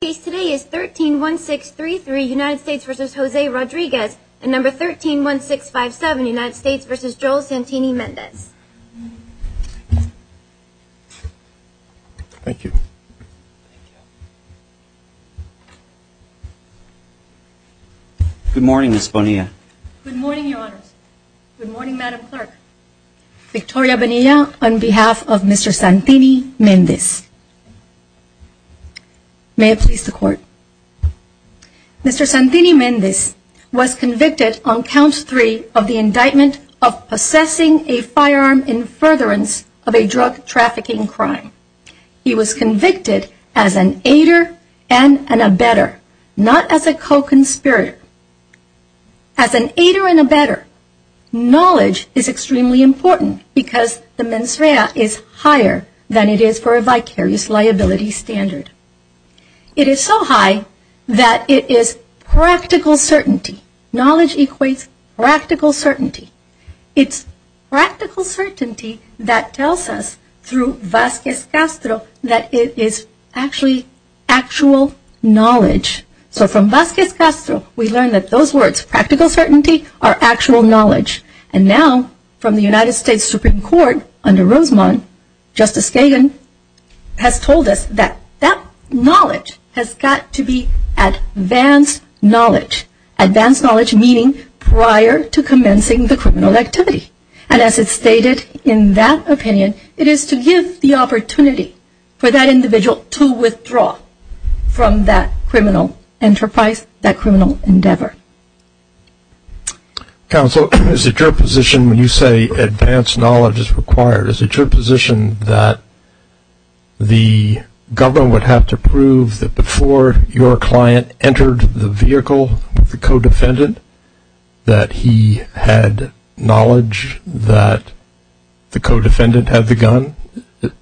The case today is 13-1633 United States v. Jose Rodriguez and number 13-1657 United States v. Joel Santini-Mendez Thank you Good morning Ms. Bonilla Good morning your honors Good morning Madam Clerk Victoria Bonilla on behalf of Mr. Santini-Mendez May it please the court Mr. Santini-Mendez was convicted on count three of the indictment of possessing a firearm in furtherance of a drug trafficking crime He was convicted as an aider and an abetter, not as a co-conspirator As an aider and abetter, knowledge is extremely important because the mens rea is higher than it is for a vicarious liability standard It is so high that it is practical certainty, knowledge equates practical certainty It's practical certainty that tells us through Vasquez Castro that it is actually actual knowledge So from Vasquez Castro we learn that those words practical certainty are actual knowledge And now from the United States Supreme Court under Rosamond, Justice Kagan has told us that that knowledge has got to be advanced knowledge Advanced knowledge meaning prior to commencing the criminal activity And as it's stated in that opinion it is to give the opportunity for that individual to withdraw from that criminal enterprise, that criminal endeavor Counsel is it your position when you say advanced knowledge is required Is it your position that the government would have to prove that before your client entered the vehicle with the co-defendant That he had knowledge that the co-defendant had the gun,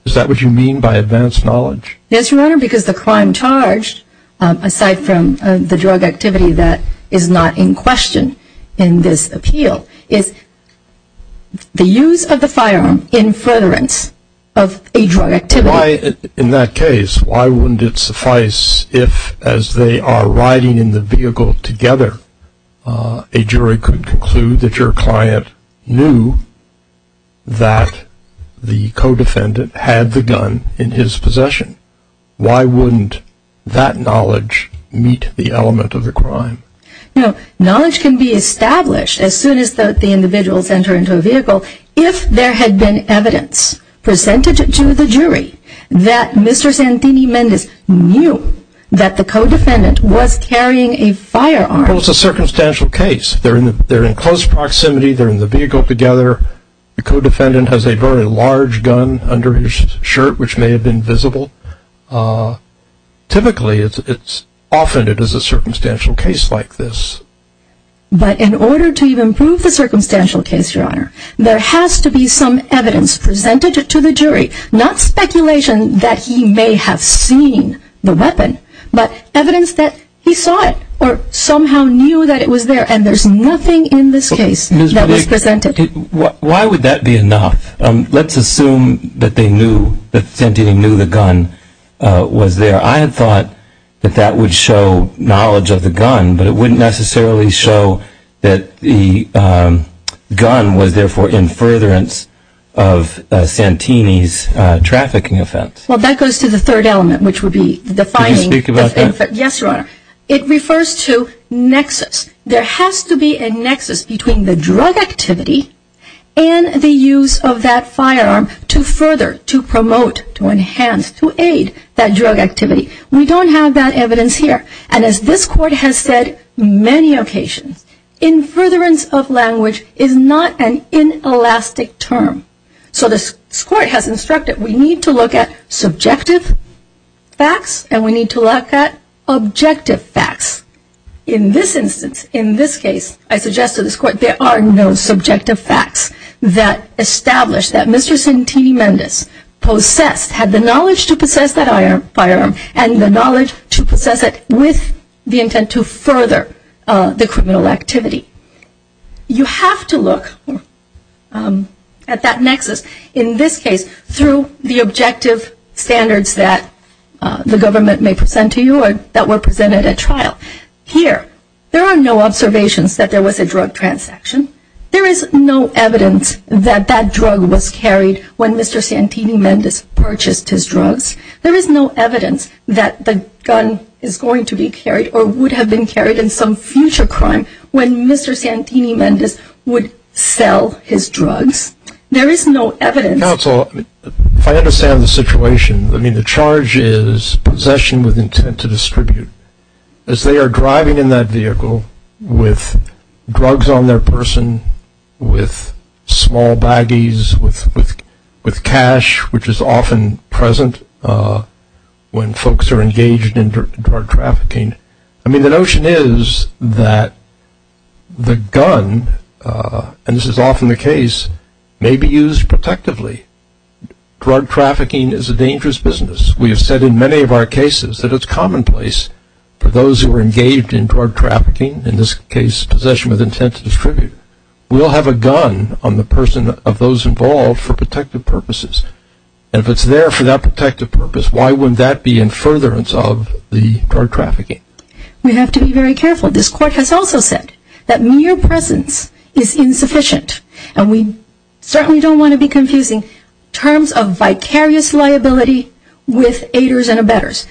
is that what you mean by advanced knowledge? Yes your honor because the crime charged aside from the drug activity that is not in question in this appeal Is the use of the firearm in furtherance of a drug activity In that case why wouldn't it suffice if as they are riding in the vehicle together A jury could conclude that your client knew that the co-defendant had the gun in his possession Why wouldn't that knowledge meet the element of the crime? You know knowledge can be established as soon as the individuals enter into a vehicle If there had been evidence presented to the jury that Mr. Santini Mendez knew that the co-defendant was carrying a firearm Well it's a circumstantial case, they're in close proximity, they're in the vehicle together The co-defendant has a very large gun under his shirt which may have been visible Typically often it is a circumstantial case like this But in order to even prove the circumstantial case your honor There has to be some evidence presented to the jury Not speculation that he may have seen the weapon But evidence that he saw it or somehow knew that it was there And there's nothing in this case that was presented Why would that be enough? Let's assume that Santini knew the gun was there I had thought that that would show knowledge of the gun But it wouldn't necessarily show that the gun was there for in furtherance of Santini's trafficking offense Well that goes to the third element which would be Can you speak about that? Yes your honor It refers to nexus There has to be a nexus between the drug activity and the use of that firearm To further, to promote, to enhance, to aid that drug activity We don't have that evidence here And as this court has said many occasions In furtherance of language is not an inelastic term So this court has instructed we need to look at subjective facts And we need to look at objective facts In this instance, in this case, I suggest to this court There are no subjective facts that establish that Mr. Santini Mendes Possessed, had the knowledge to possess that firearm And the knowledge to possess it with the intent to further the criminal activity You have to look at that nexus In this case through the objective standards that the government may present to you That were presented at trial Here, there are no observations that there was a drug transaction There is no evidence that that drug was carried when Mr. Santini Mendes purchased his drugs There is no evidence that the gun is going to be carried Or would have been carried in some future crime When Mr. Santini Mendes would sell his drugs There is no evidence Counsel, if I understand the situation I mean the charge is possession with intent to distribute As they are driving in that vehicle with drugs on their person With small baggies, with cash which is often present When folks are engaged in drug trafficking I mean the notion is that the gun And this is often the case, may be used protectively Drug trafficking is a dangerous business We have said in many of our cases that it's commonplace For those who are engaged in drug trafficking In this case, possession with intent to distribute We'll have a gun on the person of those involved for protective purposes And if it's there for that protective purpose Why would that be in furtherance of the drug trafficking? We have to be very careful This court has also said that mere presence is insufficient And we certainly don't want to be confusing Terms of vicarious liability with aiders and abettors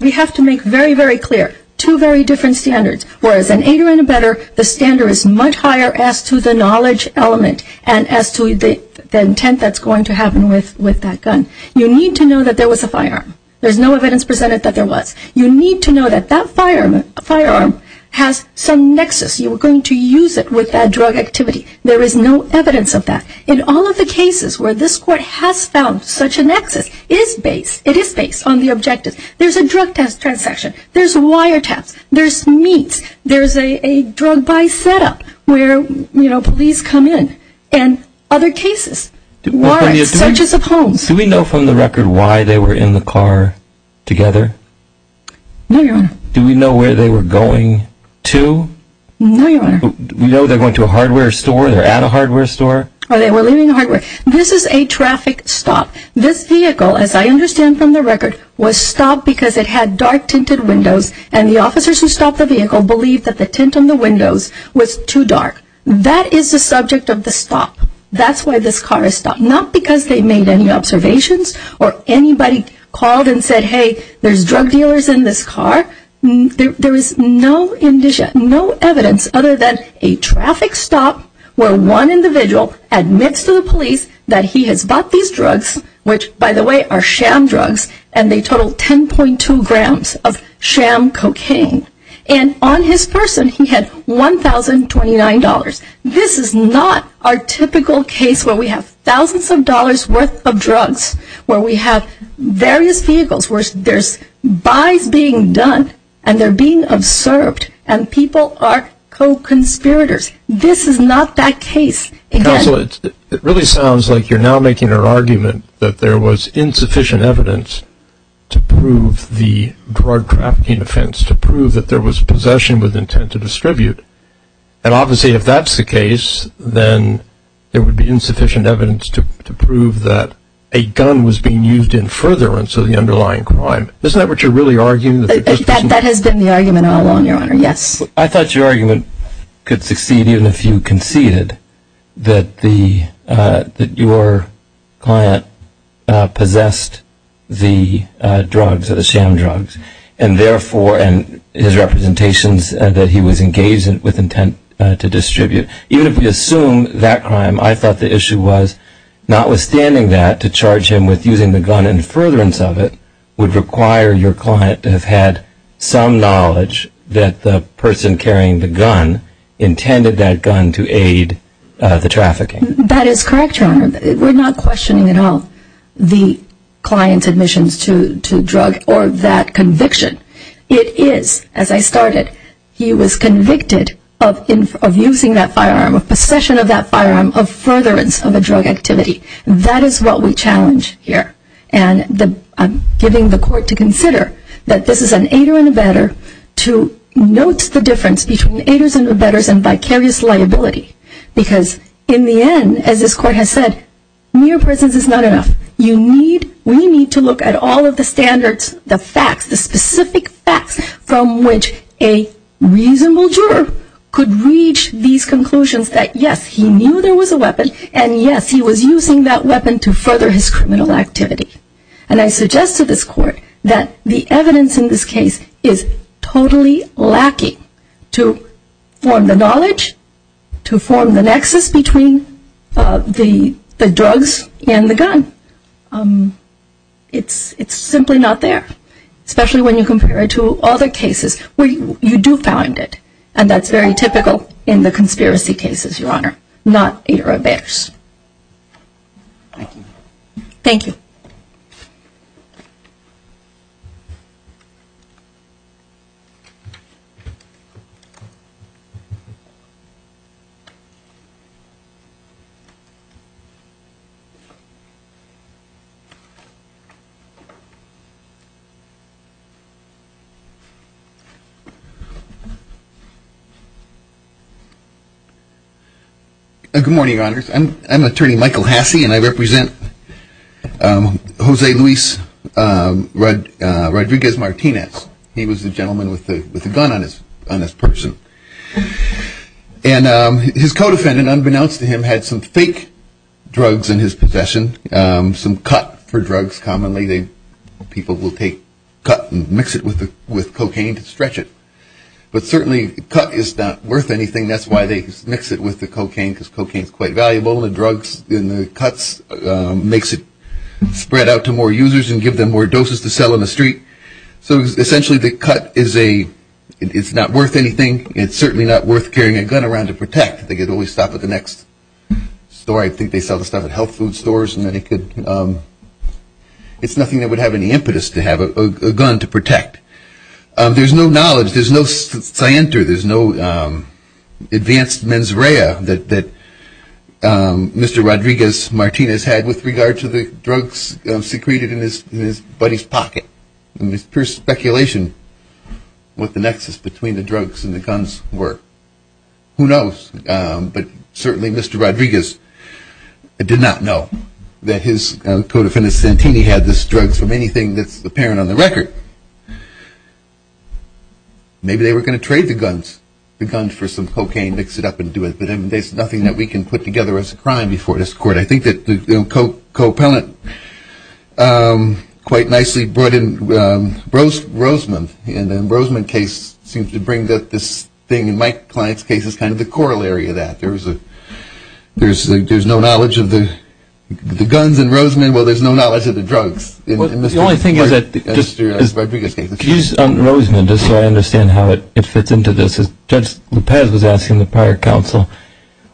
We have to make very, very clear Two very different standards Whereas an aider and abettor The standard is much higher as to the knowledge element And as to the intent that's going to happen with that gun You need to know that there was a firearm There's no evidence presented that there was You need to know that that firearm has some nexus You were going to use it with that drug activity There is no evidence of that In all of the cases where this court has found such a nexus It is based on the objective There's a drug transaction There's wiretaps There's meets There's a drug buy setup Where, you know, police come in And other cases Warrants, searches of homes Do we know from the record why they were in the car together? No, Your Honor Do we know where they were going to? No, Your Honor Do we know they're going to a hardware store? They're at a hardware store? Or they were leaving hardware? This is a traffic stop This vehicle, as I understand from the record Was stopped because it had dark tinted windows And the officers who stopped the vehicle Believed that the tint on the windows was too dark That is the subject of the stop That's why this car is stopped Not because they made any observations Or anybody called and said Hey, there's drug dealers in this car There is no evidence Other than a traffic stop Where one individual admits to the police That he has bought these drugs Which, by the way, are sham drugs And they total 10.2 grams of sham cocaine And on his person he had $1,029 This is not our typical case Where we have thousands of dollars worth of drugs Where we have various vehicles Where there's buys being done And they're being observed And people are co-conspirators This is not that case Counsel, it really sounds like you're now making an argument That there was insufficient evidence To prove the drug trafficking offense To prove that there was possession with intent to distribute And obviously if that's the case Then there would be insufficient evidence To prove that a gun was being used in furtherance Of the underlying crime Isn't that what you're really arguing? That has been the argument all along, your honor, yes I thought your argument could succeed Even if you conceded That your client possessed the drugs Or the sham drugs And therefore, and his representations That he was engaged with intent to distribute Even if we assume that crime I thought the issue was Notwithstanding that To charge him with using the gun in furtherance of it Would require your client to have had some knowledge That the person carrying the gun Intended that gun to aid the trafficking That is correct, your honor We're not questioning at all The client's admissions to drugs Or that conviction It is, as I started He was convicted of using that firearm Possession of that firearm Of furtherance of a drug activity That is what we challenge here And I'm giving the court to consider That this is an aider and abetter To note the difference between Aiders and abetters and vicarious liability Because in the end, as this court has said Near presence is not enough You need, we need to look at all of the standards The facts, the specific facts Could reach these conclusions That yes, he knew there was a weapon And yes, he was using that weapon To further his criminal activity And I suggest to this court That the evidence in this case Is totally lacking To form the knowledge To form the nexus between The drugs and the gun It's simply not there Especially when you compare it to other cases Where you do find it And that's very typical in the conspiracy cases, your honor Not aider abetters Thank you Good morning, your honors I'm attorney Michael Hasse And I represent Jose Luis Rodriguez Martinez He was the gentleman with the gun on his person And his co-defendant, unbeknownst to him Had some fake drugs in his possession Some cut for drugs, commonly People will take cut and mix it with cocaine to stretch it But certainly cut is not worth anything That's why they mix it with the cocaine Because cocaine is quite valuable And the drugs and the cuts Makes it spread out to more users And give them more doses to sell in the street So essentially the cut is a It's not worth anything It's certainly not worth carrying a gun around to protect They could always stop at the next store I think they sell the stuff at health food stores And then they could It's nothing that would have any impetus To have a gun to protect There's no knowledge There's no scienter There's no advanced mens rea That Mr. Rodriguez Martinez had With regard to the drugs secreted in his buddy's pocket It's pure speculation What the nexus between the drugs and the guns were Who knows But certainly Mr. Rodriguez Did not know That his co-defendant Santini Had these drugs from anything that's apparent on the record Maybe they were going to trade the guns The guns for some cocaine, mix it up and do it But there's nothing that we can put together as a crime Before this court I think that the co-appellant Quite nicely brought in Roseman In the Roseman case Seems to bring this thing In my client's case Is kind of the corollary of that There's no knowledge of the guns in Roseman Well there's no knowledge of the drugs The only thing is that Excuse Roseman Just so I understand how it fits into this Judge Lopez was asking the prior counsel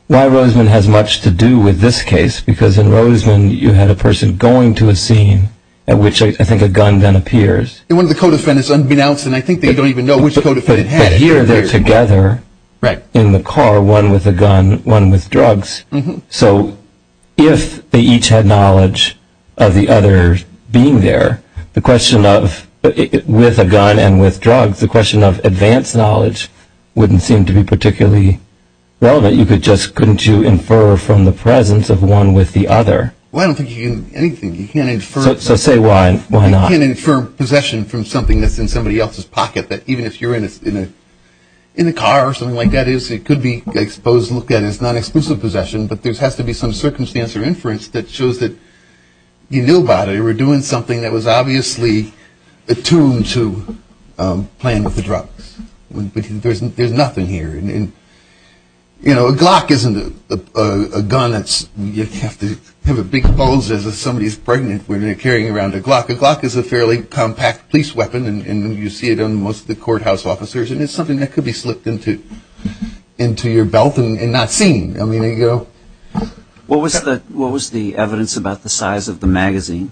Why Roseman has much to do with this case Because in Roseman You had a person going to a scene At which I think a gun then appears And one of the co-defendants unbeknownst And I think they don't even know which co-defendant had it But here they're together In the car, one with a gun, one with drugs So If they each had knowledge Of the other being there The question of With a gun and with drugs The question of advanced knowledge Wouldn't seem to be particularly relevant You could just, couldn't you infer From the presence of one with the other Well I don't think you can infer anything So say why not You can't infer possession from something that's in somebody else's pocket That even if you're in a car Or something like that It could be exposed and looked at as non-exclusive possession But there has to be some circumstance Or inference that shows that You knew about it, you were doing something That was obviously attuned to Playing with the drugs But there's nothing here And you know A Glock isn't a gun that's You have to have a big pose As if somebody's pregnant When they're carrying around a Glock A Glock is a fairly compact police weapon And you see it on most of the courthouse officers And it's something that could be slipped into Into your belt and not seen I mean you know What was the What was the evidence about the size of the magazine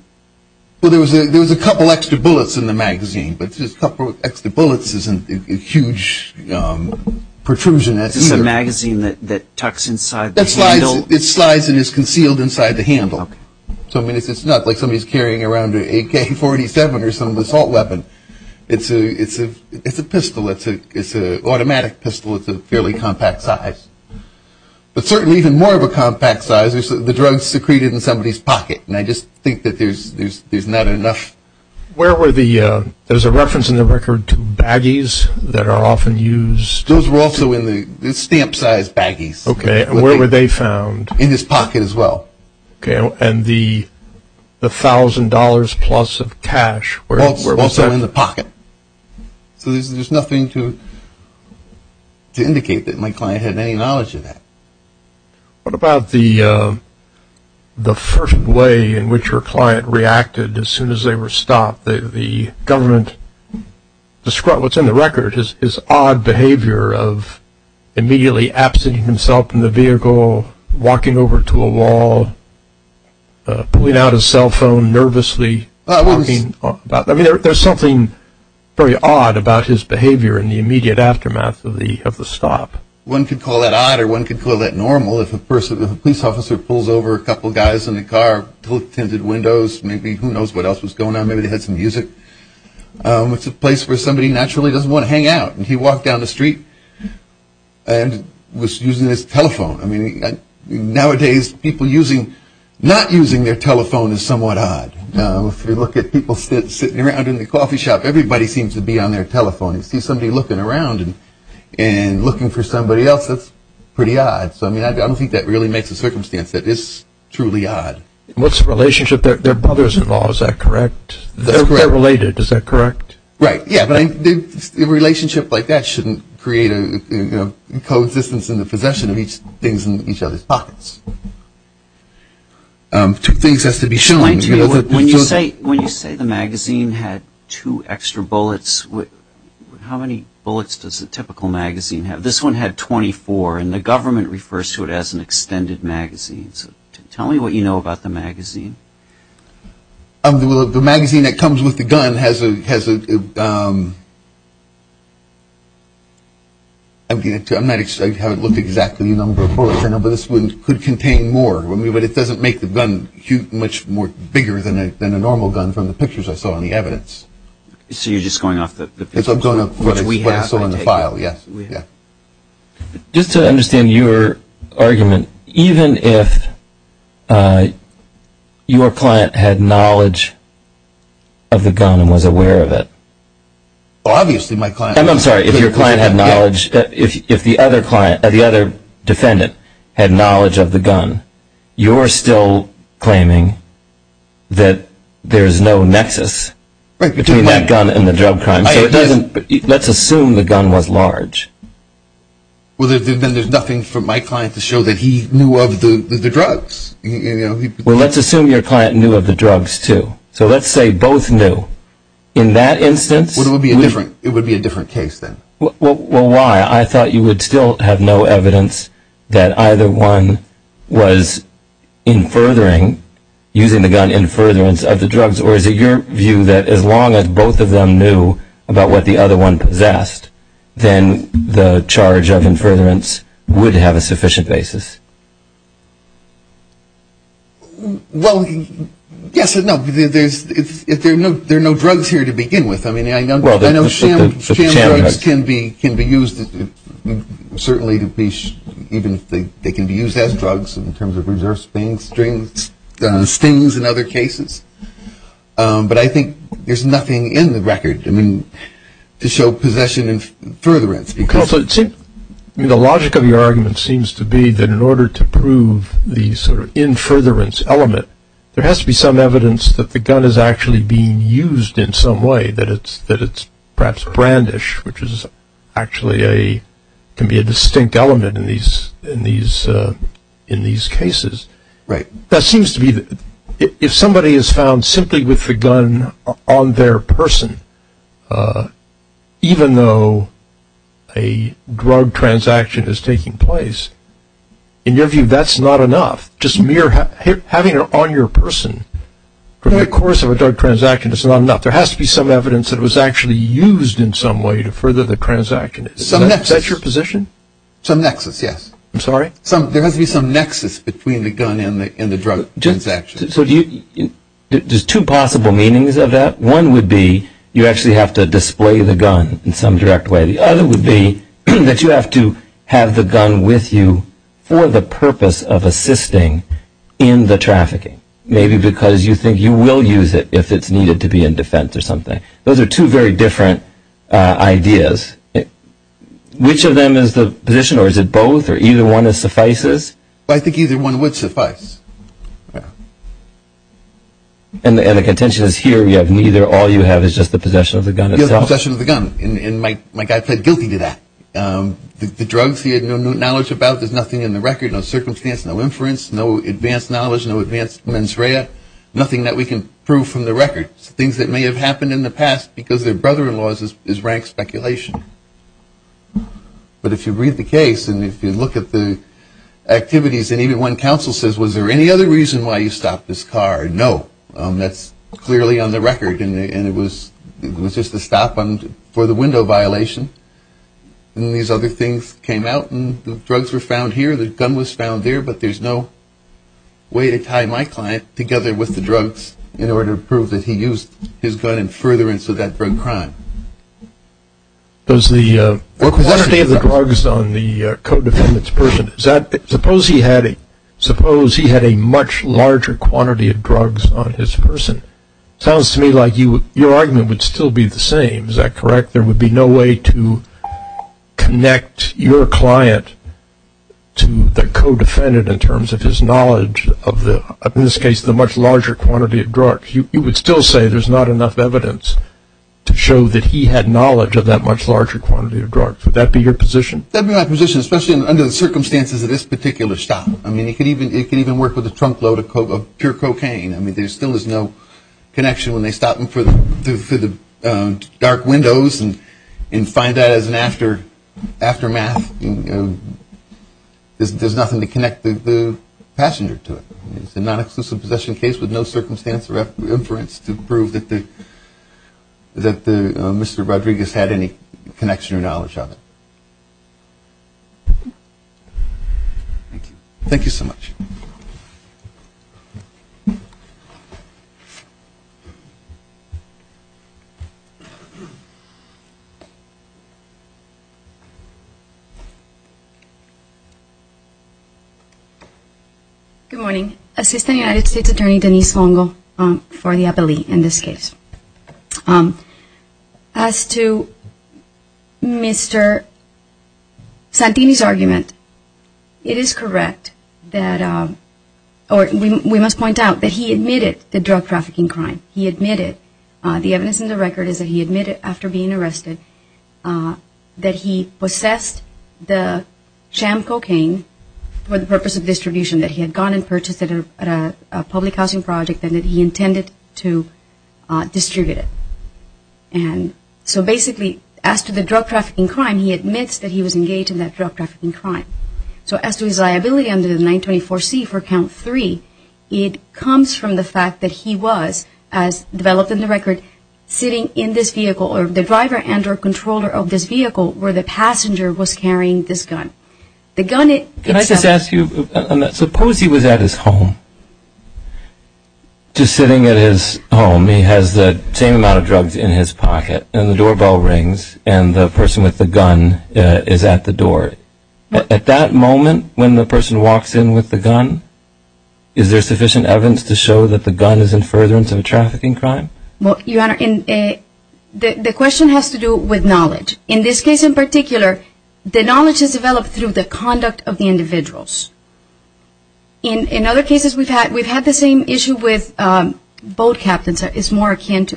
Well there was a There was a couple extra bullets in the magazine But just a couple extra bullets isn't A huge Protrusion Is this a magazine that tucks inside the handle It slides and is concealed inside the handle So I mean it's not like somebody's carrying around An AK-47 or some assault weapon It's a It's a pistol It's an automatic pistol It's a fairly compact size But certainly even more of a compact size Is the drugs secreted in somebody's pocket And I just think that there's There's not enough Where were the There's a reference in the record to baggies That are often used Those were also in the The stamp size baggies Okay and where were they found In his pocket as well Okay and the The thousand dollars plus of cash Also in the pocket So there's nothing to To indicate that my client Had any knowledge of that What about the The first way in which Your client reacted as soon as they were stopped The government Described what's in the record Is odd behavior of Immediately absenting himself From the vehicle Walking over to a wall Pulling out his cell phone And nervously Talking about There's something very odd about his behavior In the immediate aftermath of the stop One could call that odd Or one could call that normal If a police officer pulls over A couple guys in a car Tilted windows Maybe who knows what else was going on Maybe they had some music It's a place where somebody naturally Doesn't want to hang out And he walked down the street And Was using his telephone Nowadays people using Not using their telephone is somewhat odd If you look at people Sitting around in the coffee shop Everybody seems to be on their telephone You see somebody looking around And looking for somebody else That's pretty odd I don't think that really makes a circumstance That it's truly odd What's the relationship? They're brothers-in-law, is that correct? They're related, is that correct? Right, yeah A relationship like that shouldn't create A co-existence in the possession Of each other's pockets Two things has to be shown When you say the magazine Had two extra bullets How many bullets does A typical magazine have? This one had 24 And the government refers to it as an extended magazine Tell me what you know about the magazine The magazine That comes with the gun Has a I'm not I haven't looked Exactly at the number of bullets But this one could contain more But it doesn't make the gun Much bigger than a normal gun From the pictures I saw in the evidence So you're just going off the What I saw in the file Just to understand your Argument Even if Your client Had knowledge Of the gun and was aware of it Obviously my client I'm sorry, if your client had knowledge If the other defendant Had knowledge of the gun You're still claiming That There's no nexus Between that gun and the drug crime Let's assume the gun was large Well then there's nothing For my client to show that he knew Of the drugs Well let's assume your client knew of the drugs too So let's say both knew In that instance It would be a different case then Well why? I thought you would still Have no evidence That either one was In furthering Using the gun in furtherance of the drugs Or is it your view that as long as both Of them knew about what the other one Was doing The charge of in furtherance Would have a sufficient basis Well Yes No There are no drugs here to begin with I know sham drugs Can be used Certainly They can be used as drugs In terms of research Stings and other cases But I think there's nothing In the record To show possession in furtherance The logic of your argument Seems to be that in order to prove The sort of in furtherance element There has to be some evidence That the gun is actually being used In some way That it's perhaps brandish Which is actually a Can be a distinct element In these cases Right That seems to be If somebody is found Simply with the gun On their person Even though A drug transaction Is taking place In your view that's not enough Just mere having it on your person From the course of a drug transaction Is not enough There has to be some evidence That it was actually used in some way To further the transaction Is that your position Some nexus yes There has to be some nexus Between the gun and the drug transaction So do you There's two possible meanings of that One would be you actually have to display the gun In some direct way The other would be that you have to Have the gun with you For the purpose of assisting In the trafficking Maybe because you think you will use it If it's needed to be in defense or something Those are two very different ideas Which of them is the position Or is it both Or either one suffices I think either one would suffice And the contention is here You have neither All you have is just the possession of the gun itself Possession of the gun And my guy pled guilty to that The drugs he had no knowledge about There's nothing in the record No circumstance, no inference No advanced knowledge, no advanced mens rea Nothing that we can prove from the record Things that may have happened in the past Because their brother-in-law is rank speculation But if you read the case And if you look at the activities And even when counsel says Was there any other reason why you stopped this car No, that's clearly on the record And it was just a stop For the window violation And these other things came out And the drugs were found here The gun was found there But there's no way to tie my client Together with the drugs In order to prove that he used his gun And furtherance of that drug crime Does the Quantity of the drugs on the Codefendant's person Suppose he had a Much larger quantity of drugs On his person Sounds to me like your argument would still be the same Is that correct There would be no way to Connect your client To the codefendant In terms of his knowledge Of in this case the much larger quantity of drugs You would still say there's not enough evidence To show that he had Knowledge of that much larger quantity of drugs Would that be your position That would be my position Especially under the circumstances of this particular stop I mean it could even work with a trunk load of pure cocaine I mean there still is no Connection when they stop him for the Dark windows And find that as an after Aftermath There's nothing to connect The passenger to it It's a non-exclusive possession case With no circumstance or inference To prove that Mr. Rodriguez had any Connection or knowledge of it Thank you Thank you so much Good morning Assistant United States Attorney Denise Longo For the appellee in this case As to Mr. Santini's argument It is correct That We must point out that he admitted The drug trafficking crime He admitted The evidence in the record is that he admitted After being arrested That he possessed The Sham cocaine For the purpose of distribution that he had gone and purchased At a public housing project And that he intended to Distribute it And so basically As to the drug trafficking crime He admits that he was engaged in that drug trafficking crime So as to his liability under the 924C For count 3 It comes from the fact that he was As developed in the record Sitting in this vehicle The driver and or controller of this vehicle Where the passenger was carrying this gun The gun itself Can I just ask you Suppose he was at his home Just sitting at his home He has the same amount of drugs in his pocket And the doorbell rings And the person with the gun Is at the door At that moment when the person walks in With the gun Is there sufficient evidence to show that the gun Is in furtherance of a trafficking crime Your Honor The question has to do with knowledge In this case in particular The knowledge is developed through the conduct Of the individuals In other cases We've had the same issue with Boat captains Is more akin to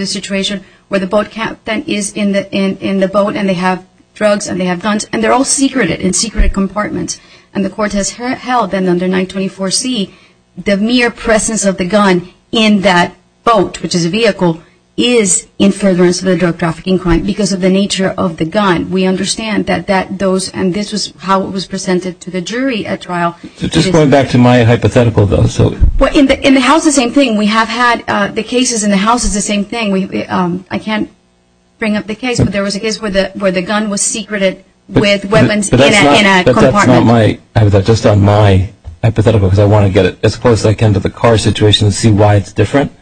the situation Where the boat captain is in the boat And they have drugs and they have guns And they're all secreted in secret compartments And the court has held Under 924C The mere presence of the gun In that boat Which is a vehicle Is in furtherance of a drug trafficking crime Because of the nature of the gun We understand that And this is how it was presented to the jury Just going back to my hypothetical In the house it's the same thing We have had the cases in the house It's the same thing But there was a case where the gun was secreted With weapons in a compartment Just on my hypothetical Because I want to get as close as I can To the car situation and see why it's different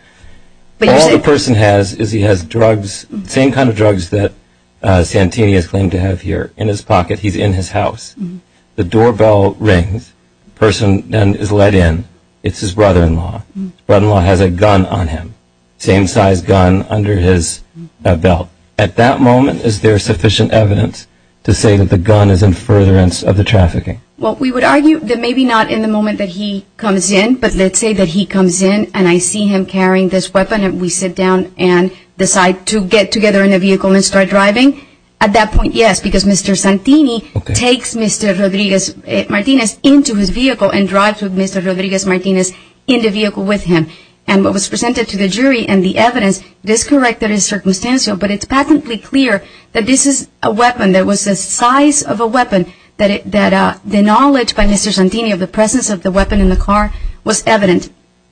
All the person has Is he has drugs Same kind of drugs that Santini Has claimed to have here in his pocket He's in his house The doorbell rings The person is let in It's his brother-in-law His brother-in-law has a gun on him Same size gun under his belt At that moment is there sufficient evidence To say that the gun is in furtherance Of the trafficking Well we would argue that maybe not in the moment that he comes in But let's say that he comes in And I see him carrying this weapon And we sit down and decide to get together In the vehicle and start driving At that point yes Because Mr. Santini takes Mr. Rodriguez-Martinez Into his vehicle And drives with Mr. Rodriguez-Martinez In the vehicle with him And what was presented to the jury and the evidence Is correct that it is circumstantial But it's patently clear that this is a weapon That was the size of a weapon That the knowledge by Mr. Santini Of the presence of the weapon in the car Was evident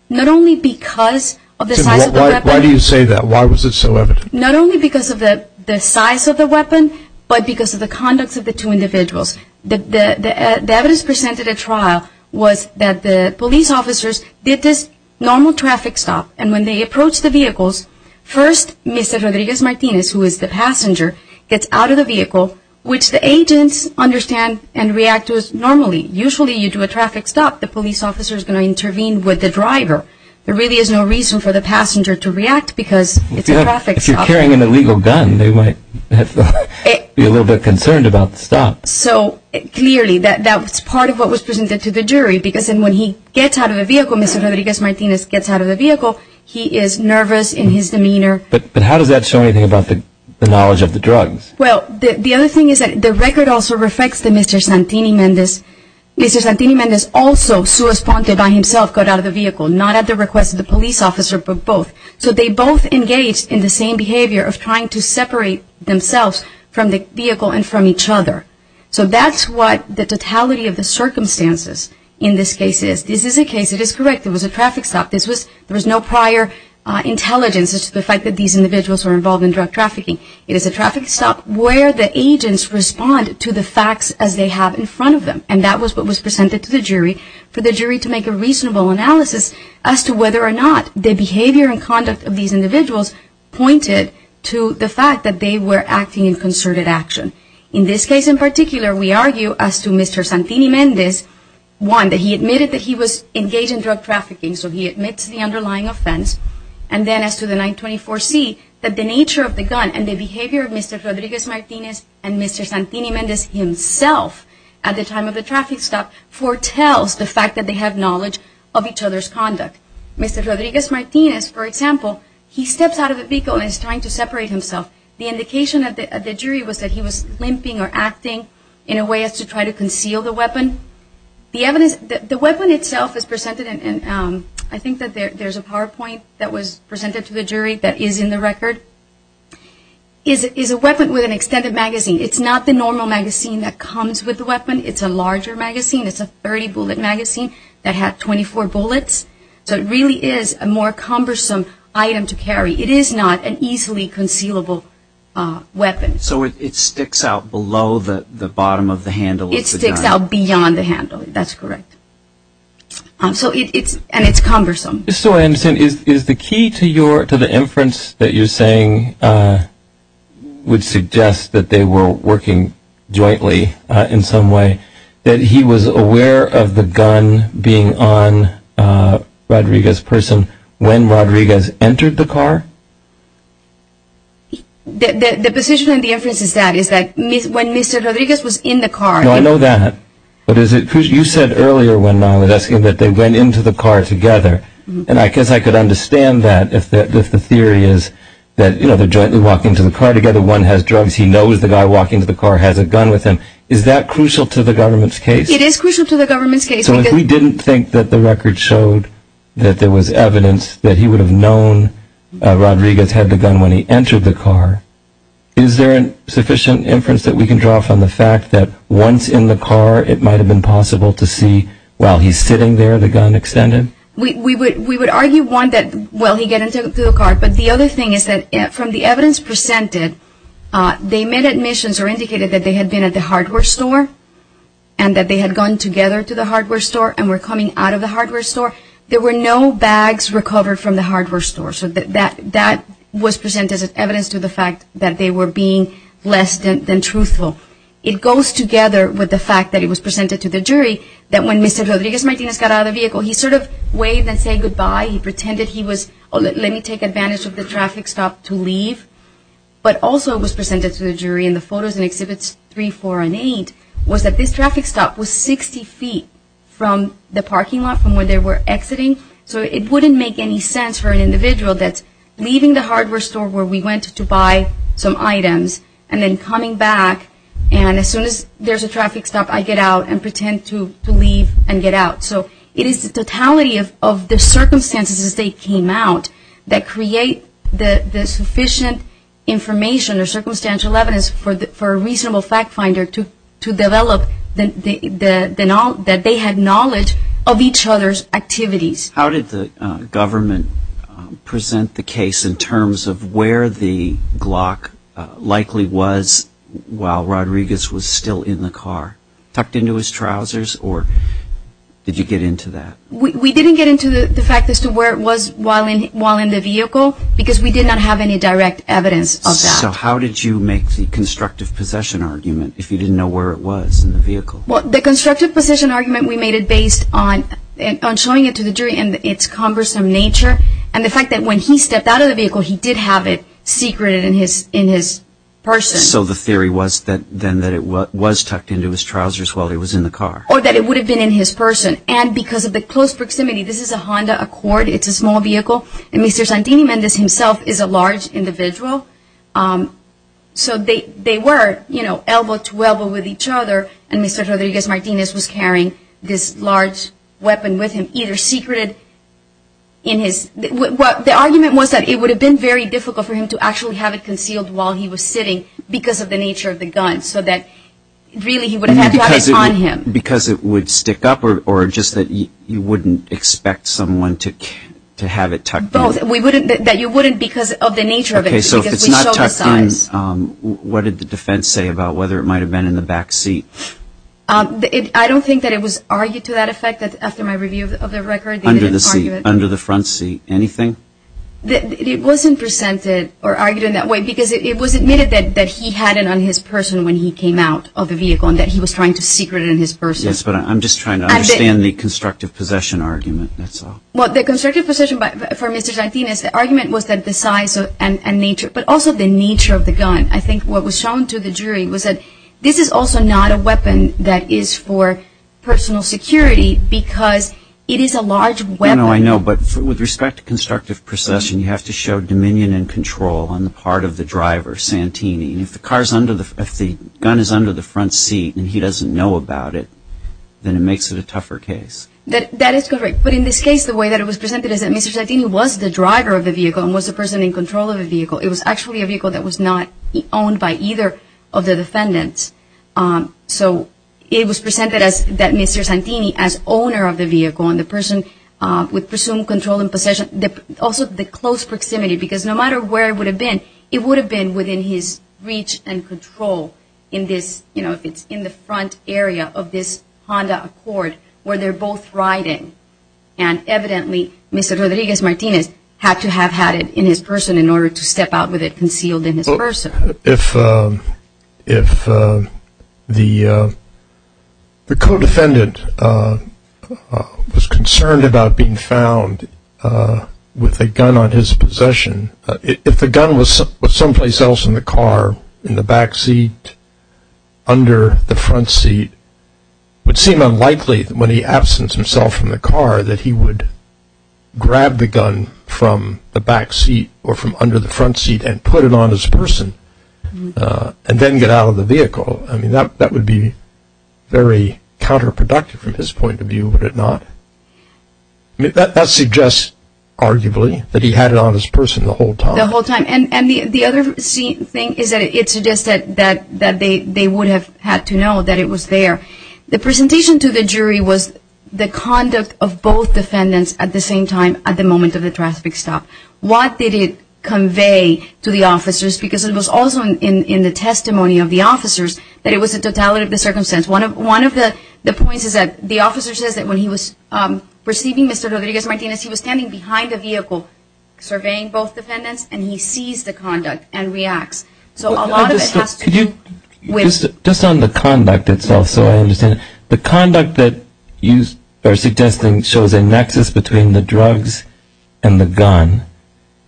Not only because of the size of the weapon Why do you say that? Why was it so evident? Not only because of the size of the weapon But because of the conducts of the two individuals The evidence presented at trial Was that the police officers Did this normal traffic stop And when they approached the vehicles First Mr. Rodriguez-Martinez Who is the passenger Gets out of the vehicle Which the agents understand and react normally Usually you do a traffic stop The police officer is going to intervene with the driver There really is no reason for the passenger To react because it's a traffic stop If you're carrying an illegal gun They might be a little bit concerned about the stop So clearly That's part of what was presented to the jury Because when he gets out of the vehicle Mr. Rodriguez-Martinez gets out of the vehicle He is nervous in his demeanor But how does that show anything about The knowledge of the drugs? Well, the other thing is that the record also reflects That Mr. Santini-Mendez Mr. Santini-Mendez also Suosponde by himself got out of the vehicle Not at the request of the police officer, but both So they both engaged in the same behavior Of trying to separate themselves From the vehicle and from each other So that's what The totality of the circumstances In this case is. This is a case It is correct. It was a traffic stop There was no prior intelligence As to the fact that these individuals were involved in drug trafficking It is a traffic stop Where the agents respond to the facts As they have in front of them And that was what was presented to the jury For the jury to make a reasonable analysis As to whether or not the behavior And conduct of these individuals Pointed to the fact that they were Acting in concerted action In this case in particular, we argue As to Mr. Santini-Mendez One, that he admitted that he was engaged in drug trafficking So he admits the underlying offense And then as to the 924C That the nature of the gun And the behavior of Mr. Rodriguez-Martinez And Mr. Santini-Mendez himself At the time of the traffic stop Foretells the fact that they have Knowledge of each other's conduct Mr. Rodriguez-Martinez, for example He steps out of the vehicle And is trying to separate himself The indication of the jury was that he was limping Or acting in a way as to try to conceal The weapon The weapon itself is presented And I think that there's a PowerPoint That was presented to the jury That is in the record Is a weapon with an extended magazine It's not the normal magazine that comes With the weapon, it's a larger magazine It's a 30-bullet magazine That had 24 bullets So it really is a more cumbersome Item to carry, it is not an easily Concealable weapon So it sticks out below The bottom of the handle It sticks out beyond the handle, that's correct So it's And it's cumbersome So is the key to the inference That you're saying Would suggest that they were Working jointly In some way That he was aware of the gun being On Rodriguez's person When Rodriguez entered The car The position In the inference is that When Mr. Rodriguez was in the car No, I know that, but is it You said earlier when I was asking That they went into the car together And I guess I could understand that If the theory is that They're jointly walking into the car together One has drugs, he knows the guy walking Into the car has a gun with him Is that crucial to the government's case? It is crucial to the government's case So if we didn't think that the record Showed that there was evidence That he would have known Rodriguez had the gun when he entered the car Is there sufficient inference That we can draw from the fact that Once in the car it might have been possible To see while he's sitting there The gun extended? We would argue one that While he got into the car, but the other thing is that From the evidence presented They made admissions or indicated That they had been at the hardware store And that they had gone together to the hardware store And were coming out of the hardware store There were no bags recovered From the hardware store So that was presented as evidence to the fact That they were being less than truthful It goes together With the fact that it was presented to the jury That when Mr. Rodriguez Martinez got out of the vehicle He sort of waved and said goodbye He pretended he was Let me take advantage of the traffic stop to leave But also it was presented to the jury In the photos in Exhibits 3, 4, and 8 Was that this traffic stop Was 60 feet From the parking lot From where they were exiting So it wouldn't make any sense for an individual That's leaving the hardware store Where we went to buy some items And then coming back And as soon as there's a traffic stop I get out and pretend to leave And get out So it is the totality of the circumstances As they came out That create the sufficient information Or circumstantial evidence For a reasonable fact finder To develop That they had knowledge Of each other's activities How did the government Present the case In terms of where the Glock Likely was While Rodriguez was still in the car Tucked into his trousers Or did you get into that? We didn't get into the fact As to where it was while in the vehicle Because we did not have any direct evidence Of that So how did you make the constructive Possession argument if you didn't know where it was In the vehicle? We made it based on Showing it to the jury And its cumbersome nature And the fact that when he stepped out of the vehicle He did have it secreted in his person So the theory was That it was tucked into his trousers While he was in the car Or that it would have been in his person And because of the close proximity This is a Honda Accord It's a small vehicle And Mr. Santini-Mendez himself is a large individual So they were Elbow to elbow With each other And Mr. Rodriguez-Martinez was carrying This large weapon with him Either secreted The argument was that it would have been Very difficult for him to actually have it concealed While he was sitting Because of the nature of the gun So that really he would have had it on him Because it would stick up Or just that you wouldn't Expect someone to have it Tucked in Because of the nature of it So if it's not tucked in What did the defense say about whether it might have been in the back seat? I don't think That it was argued to that effect After my review of the record Under the front seat, anything? It wasn't presented Or argued in that way Because it was admitted that he had it on his person When he came out of the vehicle And that he was trying to secret it in his person Yes, but I'm just trying to understand The constructive possession argument Well, the constructive possession For Mr. Santini's argument was that the size And nature, but also the nature of the gun I think what was shown to the jury Was that this is also not a weapon That is for personal security Because it is a large weapon I know, I know But with respect to constructive possession You have to show dominion and control On the part of the driver, Santini If the gun is under the front seat And he doesn't know about it Then it makes it a tougher case That is correct But in this case, the way that it was presented Is that Mr. Santini was the driver of the vehicle And was the person in control of the vehicle It was actually a vehicle that was not owned By either of the defendants So it was presented as That Mr. Santini as owner of the vehicle And the person with presumed control And possession Also the close proximity Because no matter where it would have been It would have been within his reach And control In the front area of this Honda Accord Where they are both riding And evidently Mr. Rodriguez Martinez Had to have had it in his person In order to step out with it concealed in his person If The The co-defendant Was concerned About being found With a gun on his possession If the gun was Someplace else in the car In the back seat Under the front seat It would seem unlikely When he absents himself from the car That he would grab the gun From the back seat Or from under the front seat And put it on his person And then get out of the vehicle That would be very Counterproductive from his point of view Would it not? That suggests arguably That he had it on his person the whole time The whole time And the other thing is that it suggests That they would have had to know That it was there The presentation to the jury was The conduct of both defendants At the same time at the moment of the traffic stop What did it convey To the officers Because it was also in the testimony of the officers That it was the totality of the circumstance One of the points is that The officer says that when he was Receiving Mr. Rodriguez Martinez He was standing behind the vehicle Surveying both defendants And he sees the conduct and reacts So a lot of it has to do with Just on the conduct itself So I understand The conduct that you are suggesting Shows a nexus between the drugs And the gun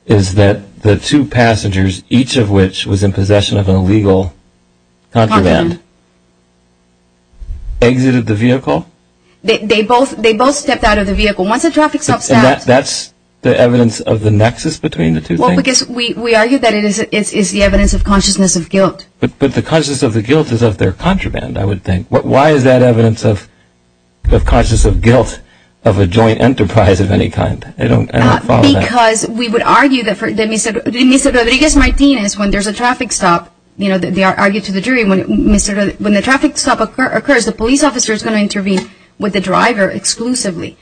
Is that the two passengers Each of which was in possession Of an illegal contraband Exited the vehicle They both stepped out of the vehicle Once the traffic stop stopped And that's the evidence of the nexus between the two things Well because we argue that it is The evidence of consciousness of guilt But the consciousness of the guilt is of their contraband I would think Why is that evidence of consciousness of guilt Of a joint enterprise of any kind I don't follow that Because we would argue that for Mr. Rodriguez Martinez When there is a traffic stop They argue to the jury When the traffic stop occurs The police officer is going to intervene With the driver exclusively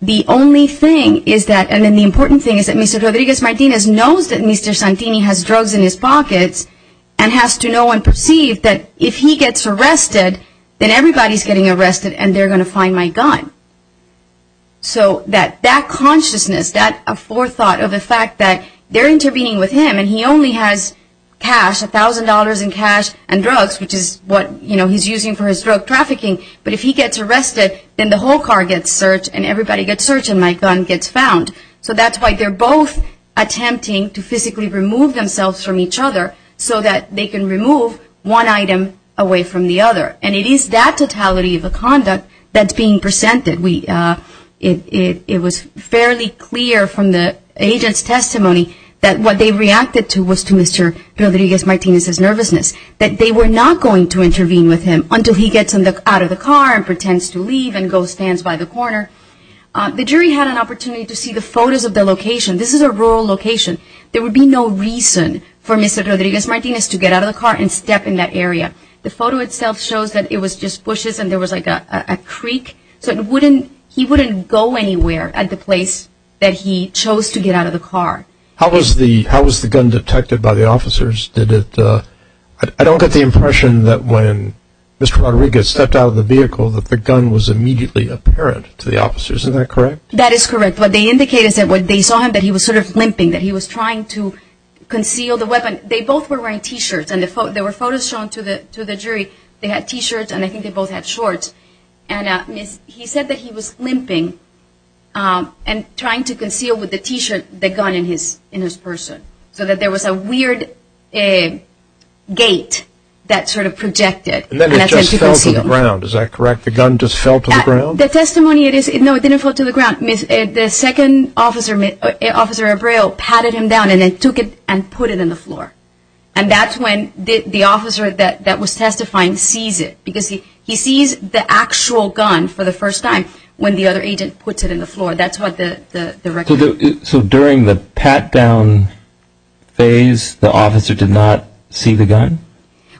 The only thing is that And the important thing is that Mr. Rodriguez Martinez knows that Mr. Santini has drugs in his pockets And has to know and perceive That if he gets arrested Then everybody is getting arrested And they are going to find my gun So that Consciousness, that forethought Of the fact that they are intervening with him And he only has cash A thousand dollars in cash and drugs Which is what he is using for his drug trafficking But if he gets arrested Then the whole car gets searched And everybody gets searched and my gun gets found So that's why they are both Attempting to physically remove themselves From each other so that they can remove One item away from the other And it is that totality Of the conduct that is being presented It was fairly clear From the agent's testimony That what they reacted to Was to Mr. Rodriguez Martinez's nervousness That they were not going to intervene with him Until he gets out of the car And pretends to leave And goes and stands by the corner The jury had an opportunity to see the photos Of the location. This is a rural location There would be no reason For Mr. Rodriguez Martinez to get out of the car And step in that area The photo itself shows that it was just bushes And there was like a creek So he wouldn't go anywhere At the place that he Chose to get out of the car How was the gun detected by the officers? Did it... I don't get the impression that when Mr. Rodriguez stepped out of the vehicle That the gun was immediately apparent To the officers. Is that correct? That is correct. What they indicate is that When they saw him that he was sort of limping That he was trying to conceal the weapon They both were wearing t-shirts And there were photos shown to the jury They had t-shirts and I think they both had shorts And he said that he was limping And trying to conceal with the t-shirt The gun in his person So that there was a weird Gate That sort of projected And then it just fell to the ground. Is that correct? The gun just fell to the ground? No, it didn't fall to the ground The second officer, Officer Abreu Patted him down and then took it And put it in the floor And that's when the officer that was testifying Sees it Because he sees the actual gun for the first time When the other agent puts it in the floor That's what the record says So during the pat-down Phase The officer did not see the gun?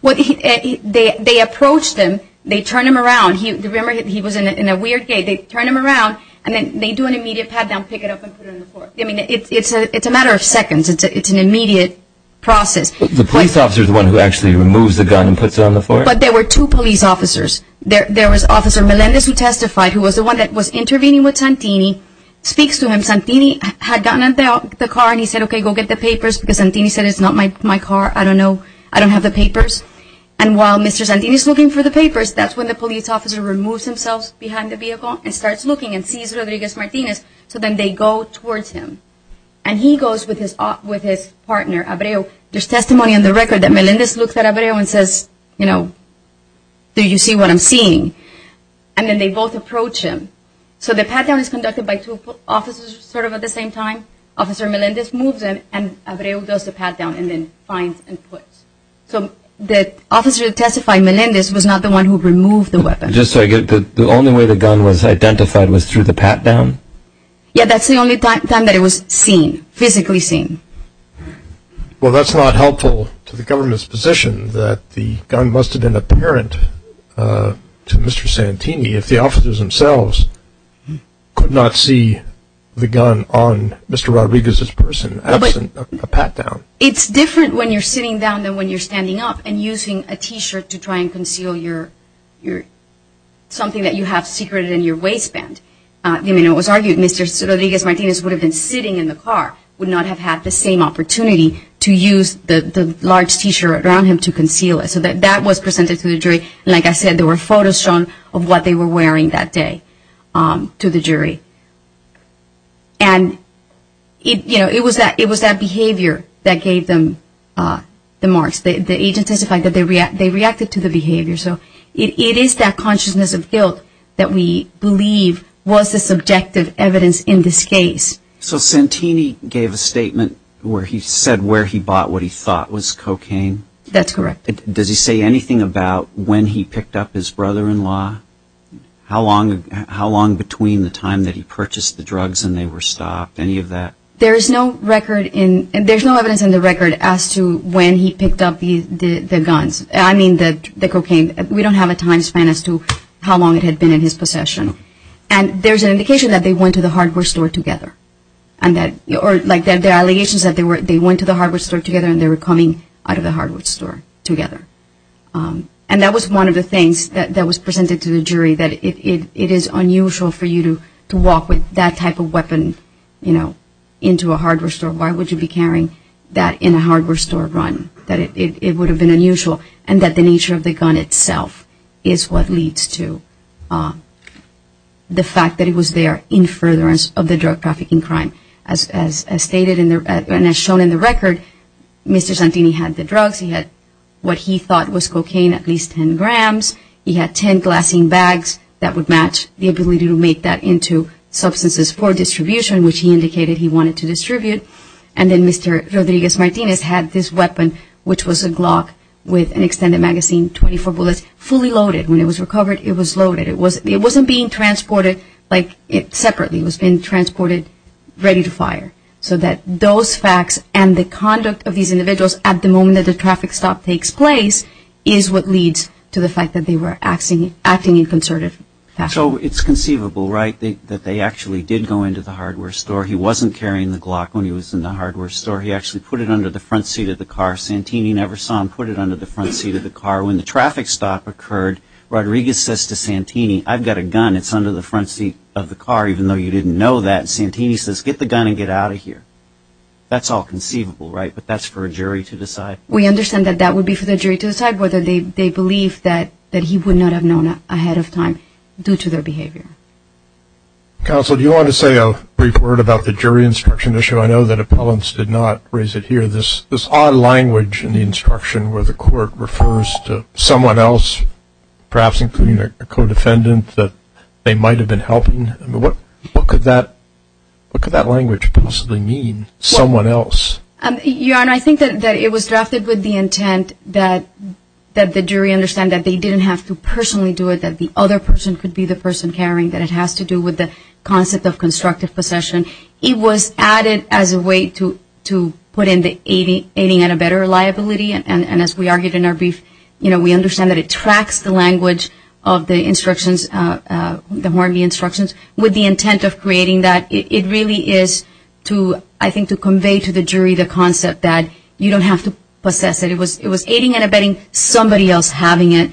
They approached him They turned him around Remember he was in a weird gate They turned him around And then they do an immediate pat-down Pick it up and put it in the floor It's a matter of seconds It's an immediate process The police officer is the one who actually removes the gun and puts it on the floor? But there were two police officers There was Officer Melendez who testified Who was the one that was intervening with Santini Speaks to him Santini had gotten in the car and he said Okay, go get the papers Because Santini said it's not my car, I don't know I don't have the papers And while Mr. Santini is looking for the papers That's when the police officer removes himself Behind the vehicle and starts looking And sees Rodriguez Martinez So then they go towards him And he goes with his partner, Abreu There's testimony on the record that Melendez Looks at Abreu and says Do you see what I'm seeing? And then they both approach him So the pat-down is conducted by two officers Sort of at the same time Officer Melendez moves him And Abreu does the pat-down And then finds and puts So the officer that testified Melendez was not the one who removed the weapon Just so I get it, the only way the gun Was identified was through the pat-down? Yeah, that's the only time That it was seen, physically seen Well that's not helpful To the government's position That the gun must have been apparent To Mr. Santini If the officers themselves Could not see The gun on Mr. Rodriguez's person Absent a pat-down It's different when you're sitting down Than when you're standing up And using a t-shirt to try and conceal Something that you have Secreted in your waistband It was argued that Mr. Rodriguez Martinez Would have been sitting in the car Would not have had the same opportunity To use the large t-shirt around him To conceal it, so that was presented to the jury Like I said, there were photos shown Of what they were wearing that day To the jury And It was that behavior That gave them The marks, the agent testified That they reacted to the behavior It is that consciousness of guilt That we believe was the subjective Evidence in this case So Santini gave a statement Where he said where he bought What he thought was cocaine That's correct Does he say anything about when he picked up his brother-in-law? How long Between the time that he purchased the drugs And they were stopped, any of that? There's no record There's no evidence in the record As to when he picked up the guns I mean the cocaine We don't have a time span as to how long it had been in his possession And there's an indication That they went to the hardware store together And that The allegations that they went to the hardware store together And they were coming out of the hardware store together And that was one of the things That was presented to the jury That it is unusual for you To walk with that type of weapon You know Into a hardware store Why would you be carrying that in a hardware store run? That it would have been unusual And that the nature of the gun itself Is what leads to The fact that it was there In furtherance of the drug trafficking crime As stated And as shown in the record Mr. Santini had the drugs He had what he thought was cocaine At least 10 grams He had 10 glassine bags That would match the ability to make that into Substances for distribution Which he indicated he wanted to distribute And then Mr. Rodriguez-Martinez Had this weapon Which was a Glock with an extended magazine 24 bullets, fully loaded When it was recovered it was loaded It wasn't being transported separately It was being transported ready to fire So that those facts And the conduct of these individuals At the moment that the traffic stop takes place Is what leads to the fact that They were acting in concerted fashion So it's conceivable right That they actually did go into the hardware store He wasn't carrying the Glock When he was in the hardware store He actually put it under the front seat of the car Santini never saw him put it under the front seat of the car When the traffic stop occurred Rodriguez says to Santini I've got a gun, it's under the front seat of the car Even though you didn't know that Santini says get the gun and get out of here That's all conceivable right But that's for a jury to decide We understand that that would be for the jury to decide Whether they believe that he would not have known Ahead of time due to their behavior Counsel do you want to say a brief word About the jury instruction issue I know that appellants did not raise it here This odd language in the instruction Where the court refers to someone else Perhaps including a co-defendant That they might have been helping What could that What could that language possibly mean Someone else I think that it was drafted with the intent That the jury Understand that they didn't have to personally do it That the other person could be the person Carrying that it has to do with the concept Of constructive possession It was added as a way to Put in the aiding and a better Liability and as we argued in our brief You know we understand that it tracks The language of the instructions The Hornby instructions With the intent of creating that It really is to I think to convey to the jury the concept That you don't have to possess it It was aiding and abetting Somebody else having it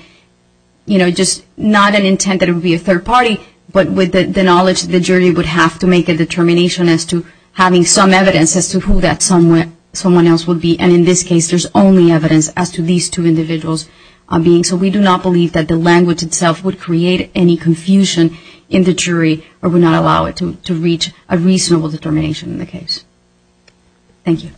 You know just not an intent that it would be a third party But with the knowledge The jury would have to make a determination As to having some evidence As to who that someone else would be And in this case there is only evidence As to these two individuals being So we do not believe that the language itself Would create any confusion In the jury or would not allow it To reach a reasonable determination In the case Thank you